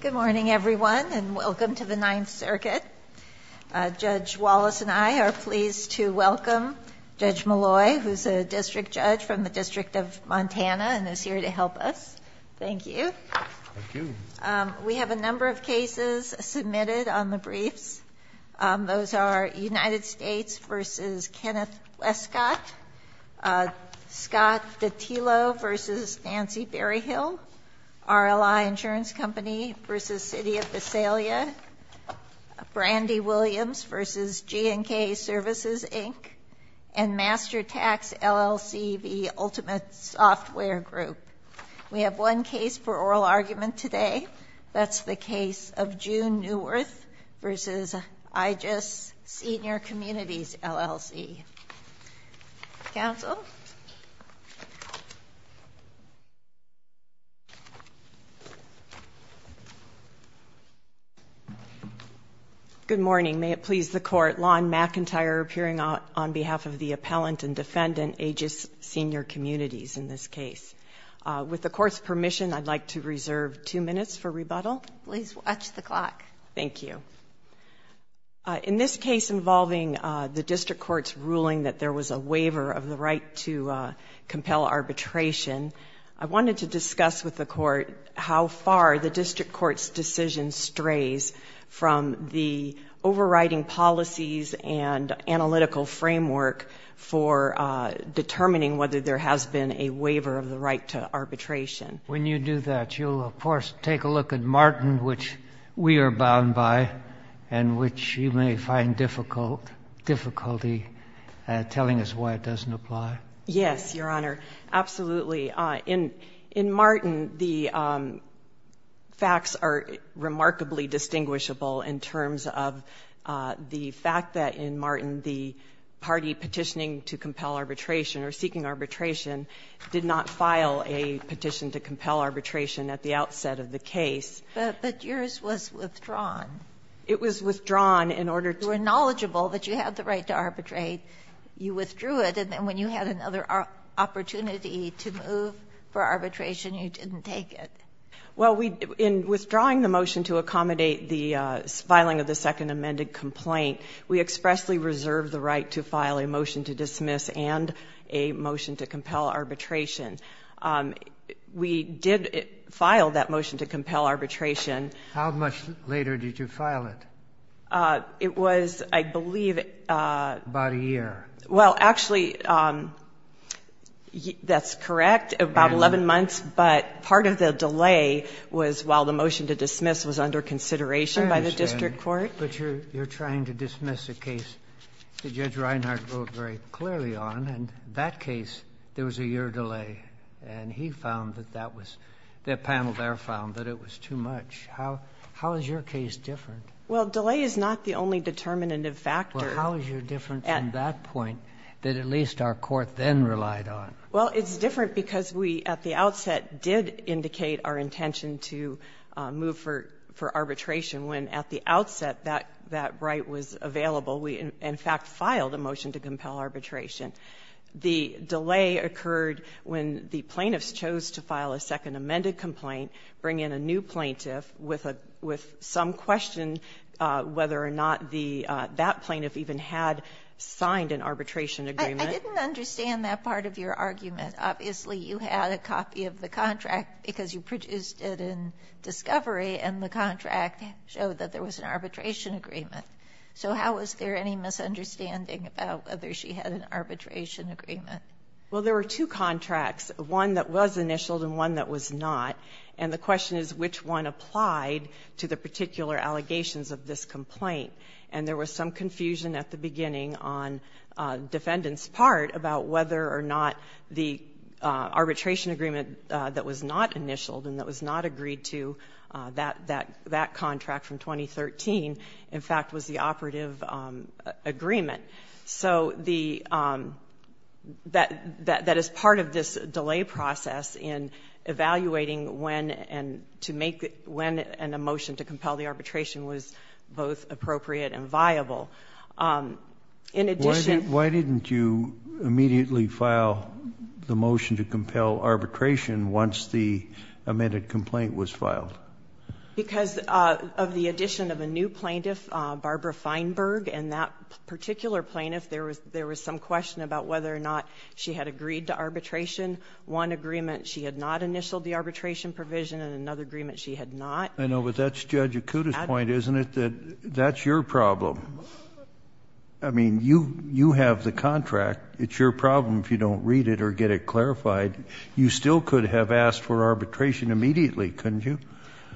Good morning, everyone, and welcome to the Ninth Circuit. Judge Wallace and I are pleased to welcome Judge Malloy, who is a district judge from the District of Montana and is here to help us. Thank you. We have a number of cases submitted on the briefs. Those are United States v. Kenneth Westcott, Scott Datilo v. Nancy Berryhill, RLI Insurance Company v. City of Visalia, Brandy Williams v. G&K Services, Inc., and Master Tax LLC v. Ultimate Software Group. We have one case for oral argument today. That's the case of June Newirth v. Aegis Senior Communities, LLC. Counsel? Good morning. May it please the Court. Lon McIntyre appearing on behalf of the appellant and defendant, Aegis Senior Communities, in this case. With the Court's permission, I'd like to reserve two minutes for rebuttal. Please watch the clock. Thank you. In this case involving the district court's ruling that there was a waiver of the right to compel arbitration, I wanted to discuss with the Court how far the district court's decision strays from the overriding policies and analytical framework for determining whether there has been a waiver of the right to arbitration. When you do that, you'll, of course, take a look at Martin, which we are bound by, and which you may find difficult, difficulty telling us why it doesn't apply. Yes, Your Honor. Absolutely. In Martin, the facts are remarkably distinguishable in terms of the fact that in Martin the party petitioning to compel arbitration or seeking arbitration did not file a petition to compel arbitration at the outset of the case. But yours was withdrawn. It was withdrawn in order to be knowledgeable that you had the right to arbitrate. You withdrew it, and then when you had another opportunity to move for arbitration, you didn't take it. Well, in withdrawing the motion to accommodate the filing of the second amended complaint, we expressly reserved the right to file a motion to dismiss and a motion to compel arbitration. We did file that motion to compel arbitration. How much later did you file it? It was, I believe, about a year. Well, actually, that's correct, about 11 months. But part of the delay was while the motion to dismiss was under consideration by the district court. But you're trying to dismiss a case that Judge Reinhart wrote very clearly on, and that case, there was a year delay. And he found that that was the panel there found that it was too much. How is your case different? Well, delay is not the only determinative factor. Well, how is your difference in that point that at least our court then relied on? Well, it's different because we, at the outset, did indicate our intention to move for arbitration when at the outset that right was available. We, in fact, filed a motion to compel arbitration. The delay occurred when the plaintiffs chose to file a second amended complaint, bring in a new plaintiff with some question whether or not that plaintiff even had signed an arbitration agreement. I didn't understand that part of your argument. Obviously, you had a copy of the contract because you produced it in discovery and the contract showed that there was an arbitration agreement. So how was there any misunderstanding about whether she had an arbitration agreement? Well, there were two contracts, one that was initialed and one that was not. And the question is which one applied to the particular allegations of this complaint. And there was some confusion at the beginning on defendant's part about whether or not the arbitration agreement that was not initialed and that was not agreed to, that contract from 2013, in fact, was the operative agreement. So the, that is part of this delay process in evaluating when and to make, when a motion to compel the arbitration was both appropriate and viable. In addition... Why didn't you immediately file the motion to compel arbitration once the amended complaint was filed? Because of the addition of a new plaintiff, Barbara Feinberg, and that particular plaintiff, there was, there was some question about whether or not she had agreed to arbitration. One agreement she had not initialed the arbitration provision and another agreement she had not. I know, but that's Judge Akuta's point, isn't it? That that's your problem. I mean, you, you have the contract. It's your problem if you don't read it or get it clarified. You still could have asked for arbitration immediately, couldn't you?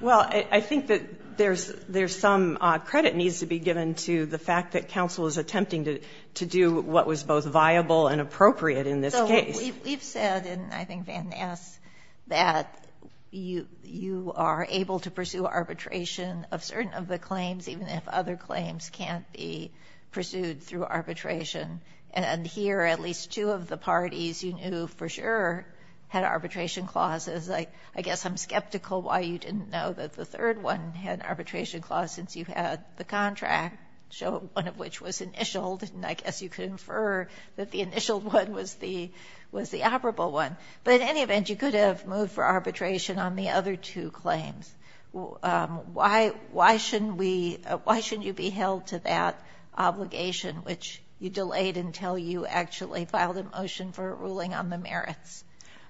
Well, I think that there's, there's some credit needs to be given to the fact that counsel is attempting to, to do what was both viable and appropriate in this case. We've said, and I think Van asked, that you, you are able to pursue arbitration of certain of the claims even if other claims can't be pursued through arbitration. And here, at least two of the parties you knew for sure had arbitration clauses. I, I guess I'm skeptical why you didn't know that the third one had an arbitration clause since you had the contract. So, one of which was initialed, and I guess you could infer that the initialed one was the, was the operable one. But in any event, you could have moved for arbitration on the other two claims. Why, why shouldn't we, why shouldn't you be held to that obligation, which you delayed until you actually filed a motion for a ruling on the merits?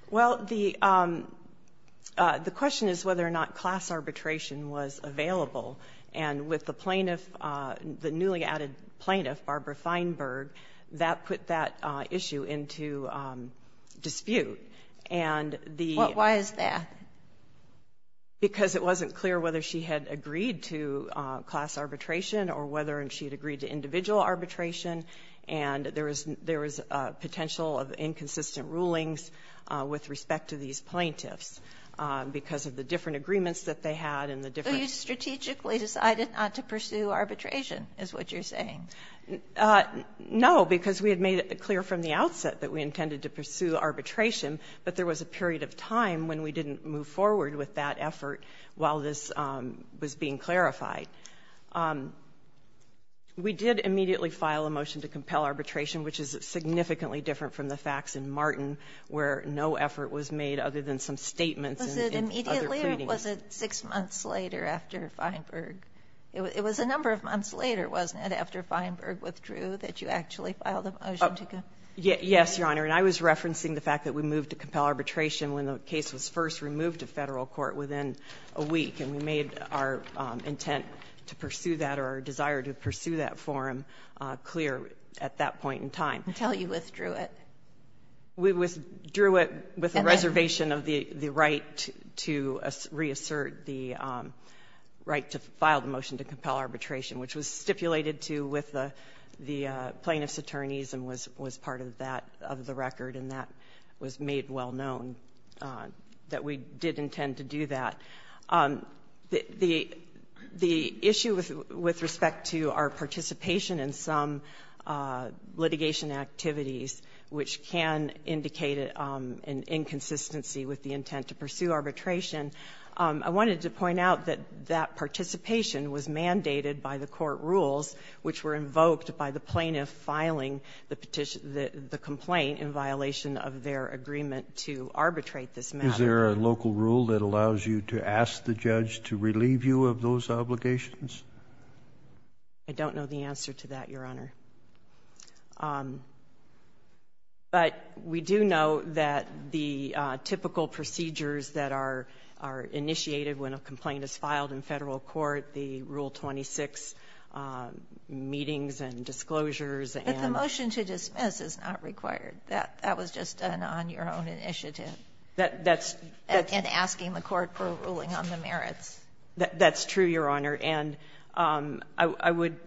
Well, the the question is whether or not class arbitration was available. And with the plaintiff, the newly added plaintiff, Barbara Feinberg, that put that issue into dispute. And the- Why is that? Because it wasn't clear whether she had agreed to class arbitration or whether she had agreed to individual arbitration. And there was, there was a potential of inconsistent rulings with respect to these plaintiffs because of the different agreements that they had and the different- So you strategically decided not to pursue arbitration, is what you're saying? No, because we had made it clear from the outset that we intended to pursue arbitration. But there was a period of time when we didn't move forward with that effort while this was being clarified. We did immediately file a motion to compel arbitration, which is significantly different from the facts in Martin, where no effort was made other than some statements and other pleadings. Was it immediately or was it six months later after Feinberg? It was a number of months later, wasn't it, after Feinberg withdrew that you actually filed a motion to compel? Yes, Your Honor. And I was referencing the fact that we moved to compel arbitration when the case was first removed to Federal court within a week. And we made our intent to pursue that or our desire to pursue that forum clear at that point in time. Until you withdrew it. We withdrew it with the reservation of the right to reassert the right to file the motion to compel arbitration, which was stipulated to with the plaintiff's attorneys and was part of that, of the record. And that was made well known that we did intend to do that. The issue with respect to our participation in some litigation activities, which can indicate an inconsistency with the intent to pursue arbitration. I wanted to point out that that participation was mandated by the court rules, which were invoked by the plaintiff filing the complaint in violation of their agreement to arbitrate this matter. Is there a local rule that allows you to ask the judge to relieve you of those obligations? I don't know the answer to that, Your Honor. But we do know that the typical procedures that are initiated when a complaint is filed in Federal court, the Rule 26 meetings and disclosures and- But the motion to dismiss is not required. That was just done on your own initiative. That's- And asking the court for a ruling on the merits. That's true, Your Honor. And I would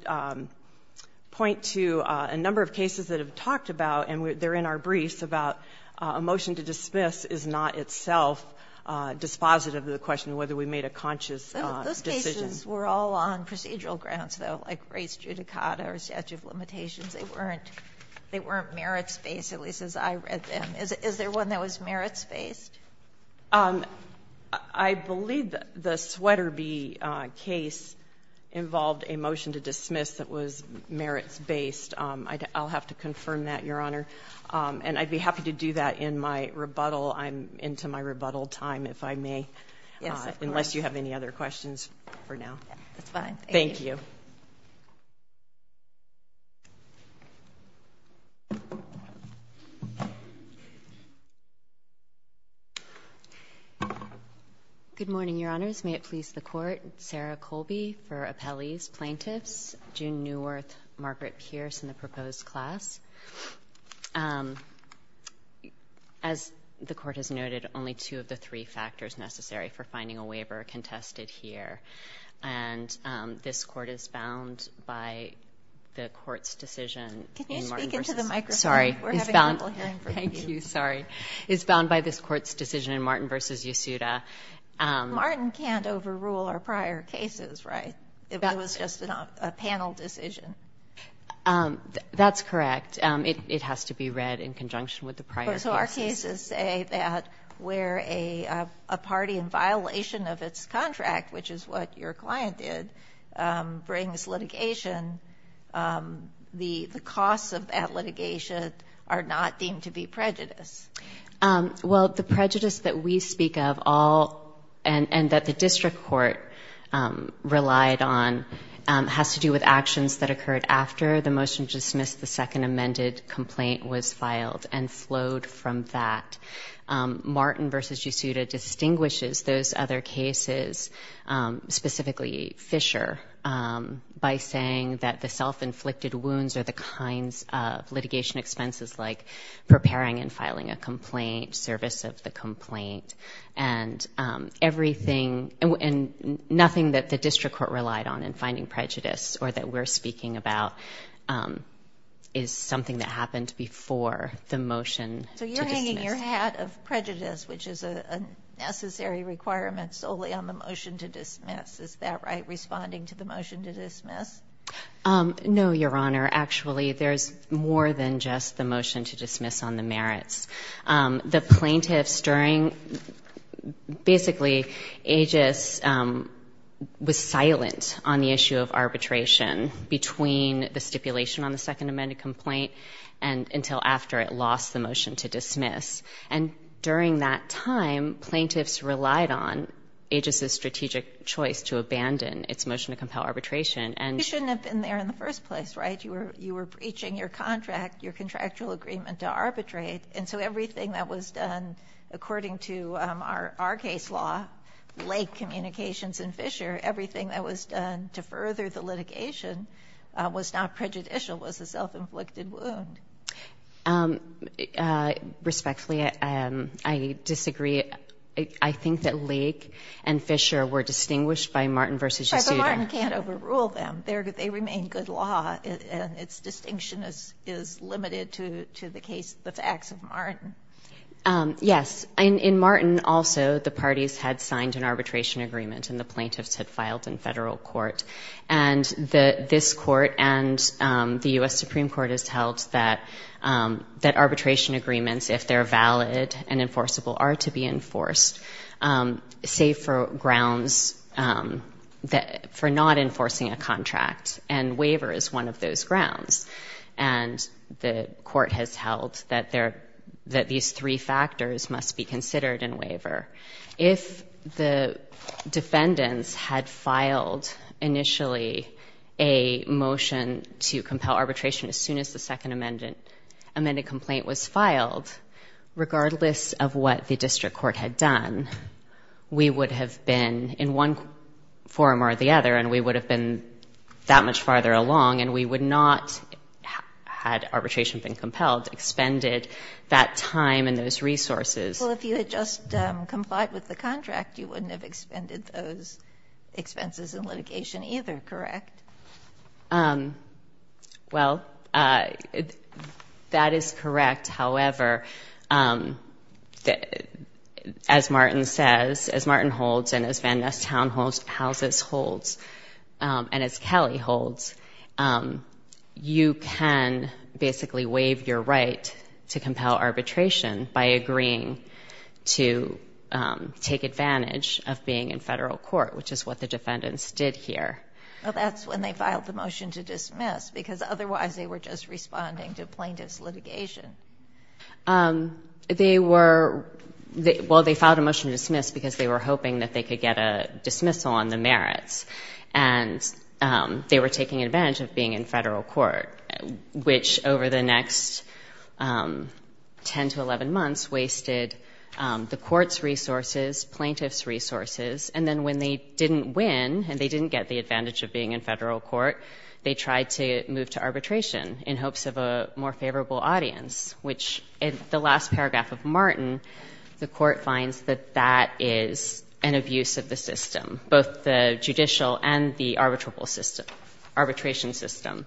point to a number of cases that have talked about, and they're in our briefs, about a motion to dismiss is not itself dispositive of the question whether we made a conscious decision. Those cases were all on procedural grounds, though, like race judicata or statute of limitations. They weren't merits-based, at least as I read them. Is there one that was merits-based? I believe the Sweaterby case involved a motion to dismiss that was merits-based. I'll have to confirm that, Your Honor. And I'd be happy to do that in my rebuttal. I'm into my rebuttal time, if I may. Yes, of course. Unless you have any other questions for now. That's fine. Thank you. Good morning, Your Honors. May it please the court, Sarah Colby for appellees, plaintiffs, June Neuwirth, Margaret Pierce, and the proposed class. As the court has noted, only two of the three factors necessary for finding a waiver are contested here. And this court is bound by the court's decision- Can you speak into the microphone? Sorry. We're having trouble hearing from you. Thank you. Sorry. Is bound by this court's decision in Martin v. Yesuda. Martin can't overrule our prior cases, right? It was just a panel decision. That's correct. It has to be read in conjunction with the prior case. So our cases say that where a party in violation of its contract, which is what your client did, brings litigation, the costs of that litigation are not deemed to be prejudice. Well, the prejudice that we speak of all and that the district court relied on has to do with actions that occurred after the motion to dismiss the second amended complaint was filed and flowed from that. Martin v. Yesuda distinguishes those other cases, specifically Fisher, by saying that the self-inflicted wounds are the kinds of litigation expenses like preparing and filing a complaint, service of the complaint, and everything and nothing that the district court relied on in finding prejudice or that we're speaking about is something that happened before the motion to dismiss. And you're ahead of prejudice, which is a necessary requirement solely on the motion to dismiss. Is that right, responding to the motion to dismiss? No, Your Honor. Actually, there's more than just the motion to dismiss on the merits. The plaintiffs during, basically, Aegis was silent on the issue of arbitration between the stipulation on the second amended complaint and until after it lost the motion to dismiss. And during that time, plaintiffs relied on Aegis' strategic choice to abandon its motion to compel arbitration and- You shouldn't have been there in the first place, right? You were breaching your contract, your contractual agreement to arbitrate. And so everything that was done, according to our case law, Lake Communications and Fisher, everything that was done to further the litigation was not prejudicial, was a self-inflicted wound. Respectfully, I disagree. I think that Lake and Fisher were distinguished by Martin v. Yesuda. But Martin can't overrule them. They remain good law, and its distinction is limited to the facts of Martin. Yes, in Martin, also, the parties had signed an arbitration agreement, and the plaintiffs had filed in federal court. And this court and the US Supreme Court has held that arbitration agreements, if they're valid and enforceable, are to be enforced, save for grounds for not enforcing a contract. And waiver is one of those grounds. And the court has held that these three factors must be considered in waiver. If the defendants had filed, initially, a motion to compel arbitration as soon as the second amended complaint was filed, regardless of what the district court had done, we would have been in one forum or the other, and we would have been that much farther along. And we would not, had arbitration been compelled, expended that time and those resources. Well, if you had just complied with the contract, you wouldn't have expended those expenses in litigation either, correct? Well, that is correct. However, as Martin says, as Martin holds, and as Van Ness Townhouses holds, and as Kelly holds, you can basically waive your right to compel arbitration by agreeing to take advantage of being in federal court, which is what the defendants did here. Well, that's when they filed the motion to dismiss, because otherwise they were just responding to plaintiff's litigation. They were, well, they filed a motion to dismiss because they were hoping that they could get a dismissal on the merits. And they were taking advantage of being in federal court, which, over the next 10 to 11 months, wasted the court's resources, plaintiff's resources, and then when they didn't win, and they didn't get the advantage of being in federal court, they tried to move to arbitration in hopes of a more favorable audience, which in the last paragraph of Martin, the court finds that that is an abuse of the system, both the judicial and the arbitration system,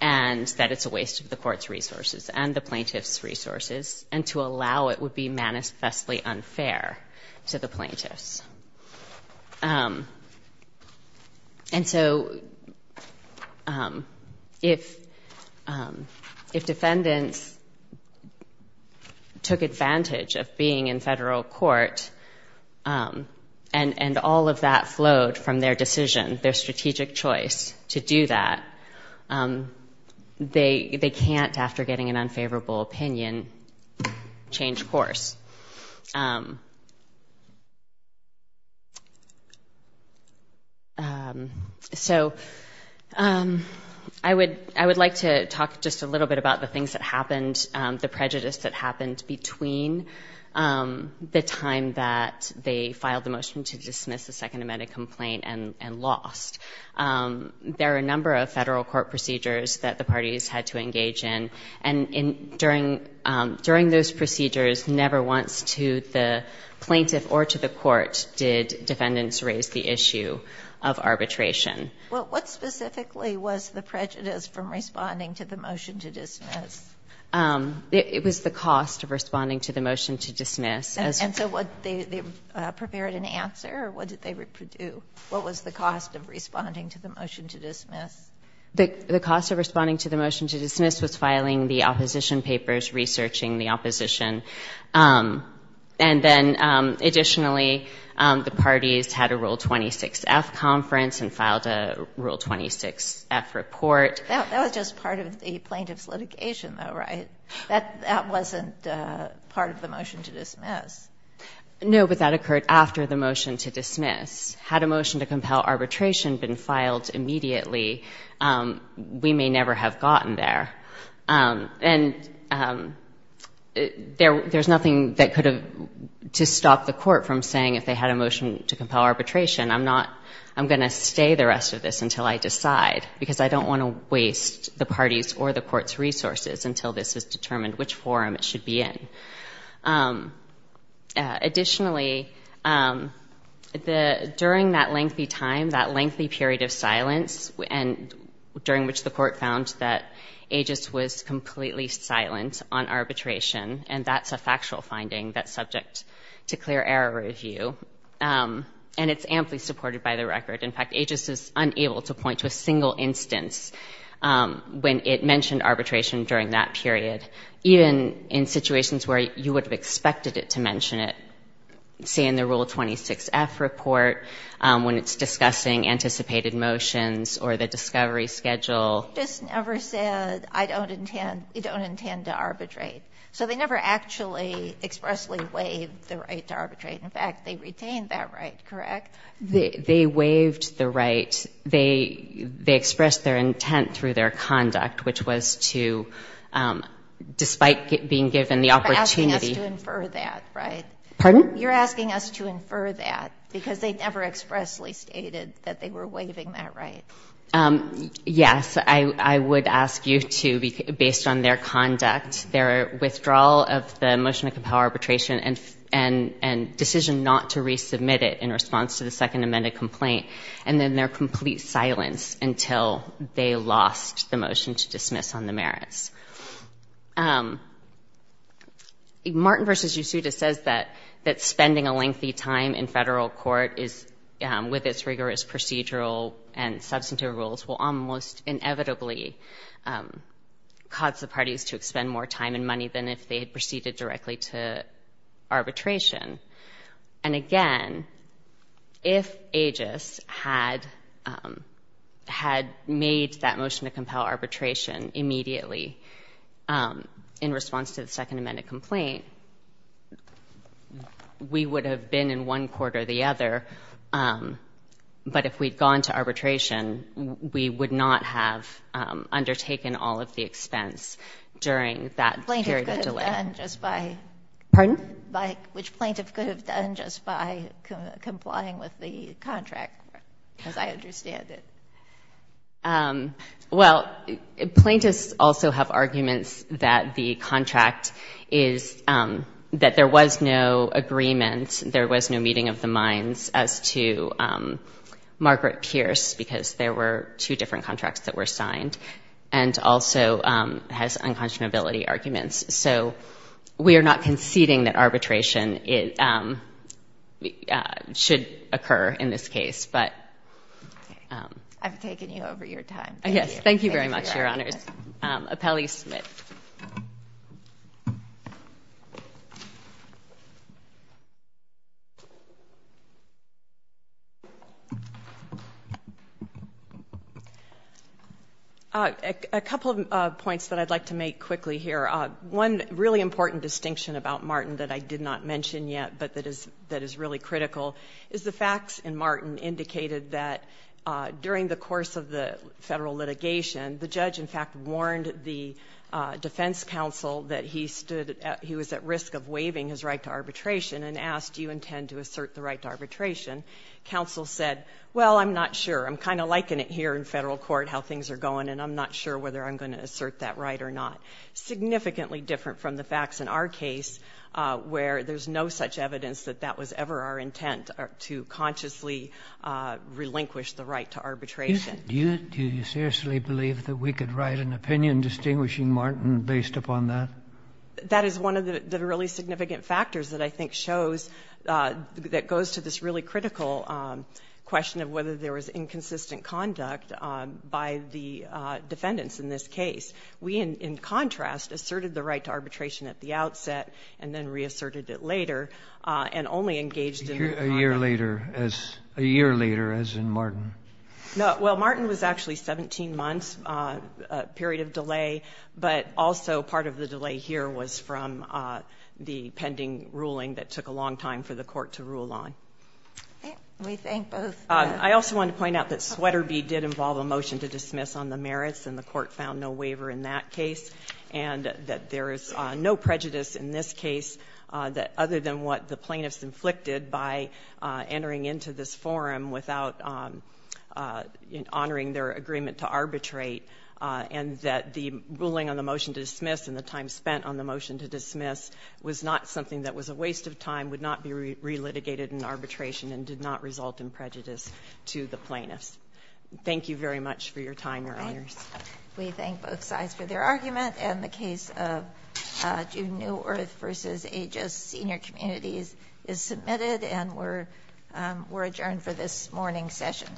and that it's a waste of the court's resources and the plaintiff's resources, and to allow it would be manifestly unfair to the plaintiffs. And so if defendants took advantage of being in federal court, and all of that flowed from their decision, their strategic choice to do that, they can't, after getting an unfavorable opinion, change course. So I would like to talk just a little bit about the things that happened, the prejudice that happened between the time that they filed the motion to dismiss the Second Amendment complaint and lost. There are a number of federal court procedures that the parties had to engage in, and during those procedures, never once to the plaintiff or to the court did defendants raise the issue of arbitration. Well, what specifically was the prejudice from responding to the motion to dismiss? It was the cost of responding to the motion to dismiss. And so what, they prepared an answer, or what did they do? What was the cost of responding to the motion to dismiss? The cost of responding to the motion to dismiss was filing the opposition papers, researching the opposition. And then, additionally, the parties had a Rule 26-F conference and filed a Rule 26-F report. That was just part of the plaintiff's litigation, though, right? That wasn't part of the motion to dismiss. No, but that occurred after the motion to dismiss. Had a motion to compel arbitration been filed immediately, we may never have gotten there. And there's nothing that could have, to stop the court from saying if they had a motion to compel arbitration, I'm not, I'm going to stay the rest of this until I decide, because I don't want to waste the party's or the court's resources until this is determined which forum it should be in. Additionally, the, during that lengthy time, that lengthy period of silence, and during which the court found that Aegis was completely silent on arbitration, and that's a factual finding that's subject to clear error review, and it's amply supported by the record. In fact, Aegis is unable to point to a single instance when it mentioned arbitration during that period. Even in situations where you would have expected it to mention it, say in the Rule 26F report, when it's discussing anticipated motions or the discovery schedule. Just never said, I don't intend, you don't intend to arbitrate. So they never actually expressly waived the right to arbitrate. In fact, they retained that right, correct? They waived the right, they expressed their intent through their conduct, which was to, despite being given the opportunity. You're asking us to infer that, right? Pardon? You're asking us to infer that, because they never expressly stated that they were waiving that right. Yes. I would ask you to, based on their conduct, their withdrawal of the motion to compel arbitration, and decision not to resubmit it in response to the second amended complaint, and then their complete silence until they lost the motion to dismiss on the merits. Martin v. Ysouda says that spending a lengthy time in federal court is, with its rigorous procedural and substantive rules, will almost inevitably cause the parties to expend more time and money than if they had proceeded directly to arbitration. And again, if AGIS had made that motion to compel arbitration immediately in response to the second amended complaint, we would have been in one court or the other. But if we'd gone to arbitration, we would not have undertaken all of the expense during that period of delay. Which plaintiff could have done just by complying with the contract, as I understand it? Well, plaintiffs also have arguments that the contract is, that there was no agreement, there was no meeting of the minds, as to Margaret Pierce, because there were two different contracts that were signed, and also has unconscionability arguments. So we are not conceding that arbitration should occur in this case, but... I've taken you over your time. Yes, thank you very much, Your Honors. Appellee Smith. A couple of points that I'd like to make quickly here. One really important distinction about Martin that I did not mention yet, but that is really critical, is the facts in Martin indicated that during the course of the federal litigation, the judge, in fact, warned the defense counsel that he stood at, he was at risk of waiving his right to arbitration, and asked, do you intend to assert the right to arbitration? Counsel said, well, I'm not sure. I'm kind of liking it here in federal court, how things are going, and I'm not sure whether I'm going to assert that right or not. Significantly different from the facts in our case, where there's no such evidence that that was ever our intent, to consciously relinquish the right to arbitration. Do you seriously believe that we could write an opinion distinguishing Martin based upon that? That is one of the really significant factors that I think shows, that goes to this really critical question of whether there was inconsistent conduct by the defendants in this case. We, in contrast, asserted the right to arbitration at the outset, and then reasserted it later, and only engaged in the conduct. A year later, as in Martin. No, well, Martin was actually 17 months, a period of delay, but also part of the delay here was from the pending ruling that took a long time for the court to rule on. We think both. I also want to point out that Sweaterby did involve a motion to dismiss on the merits, and the court found no waiver in that case, and that there is no prejudice in this case, other than what the plaintiffs inflicted by entering into this forum without honoring their agreement to arbitrate, and that the ruling on the motion to dismiss, and the time spent on the motion to dismiss, was not something that was a waste of time, would not be re-litigated in arbitration, and did not result in prejudice to the plaintiffs. Thank you very much for your time, Your Honors. We thank both sides for their argument, and the case of Juneau Earth v. A.J.S. Senior Communities is submitted, and we're adjourned for this morning's session.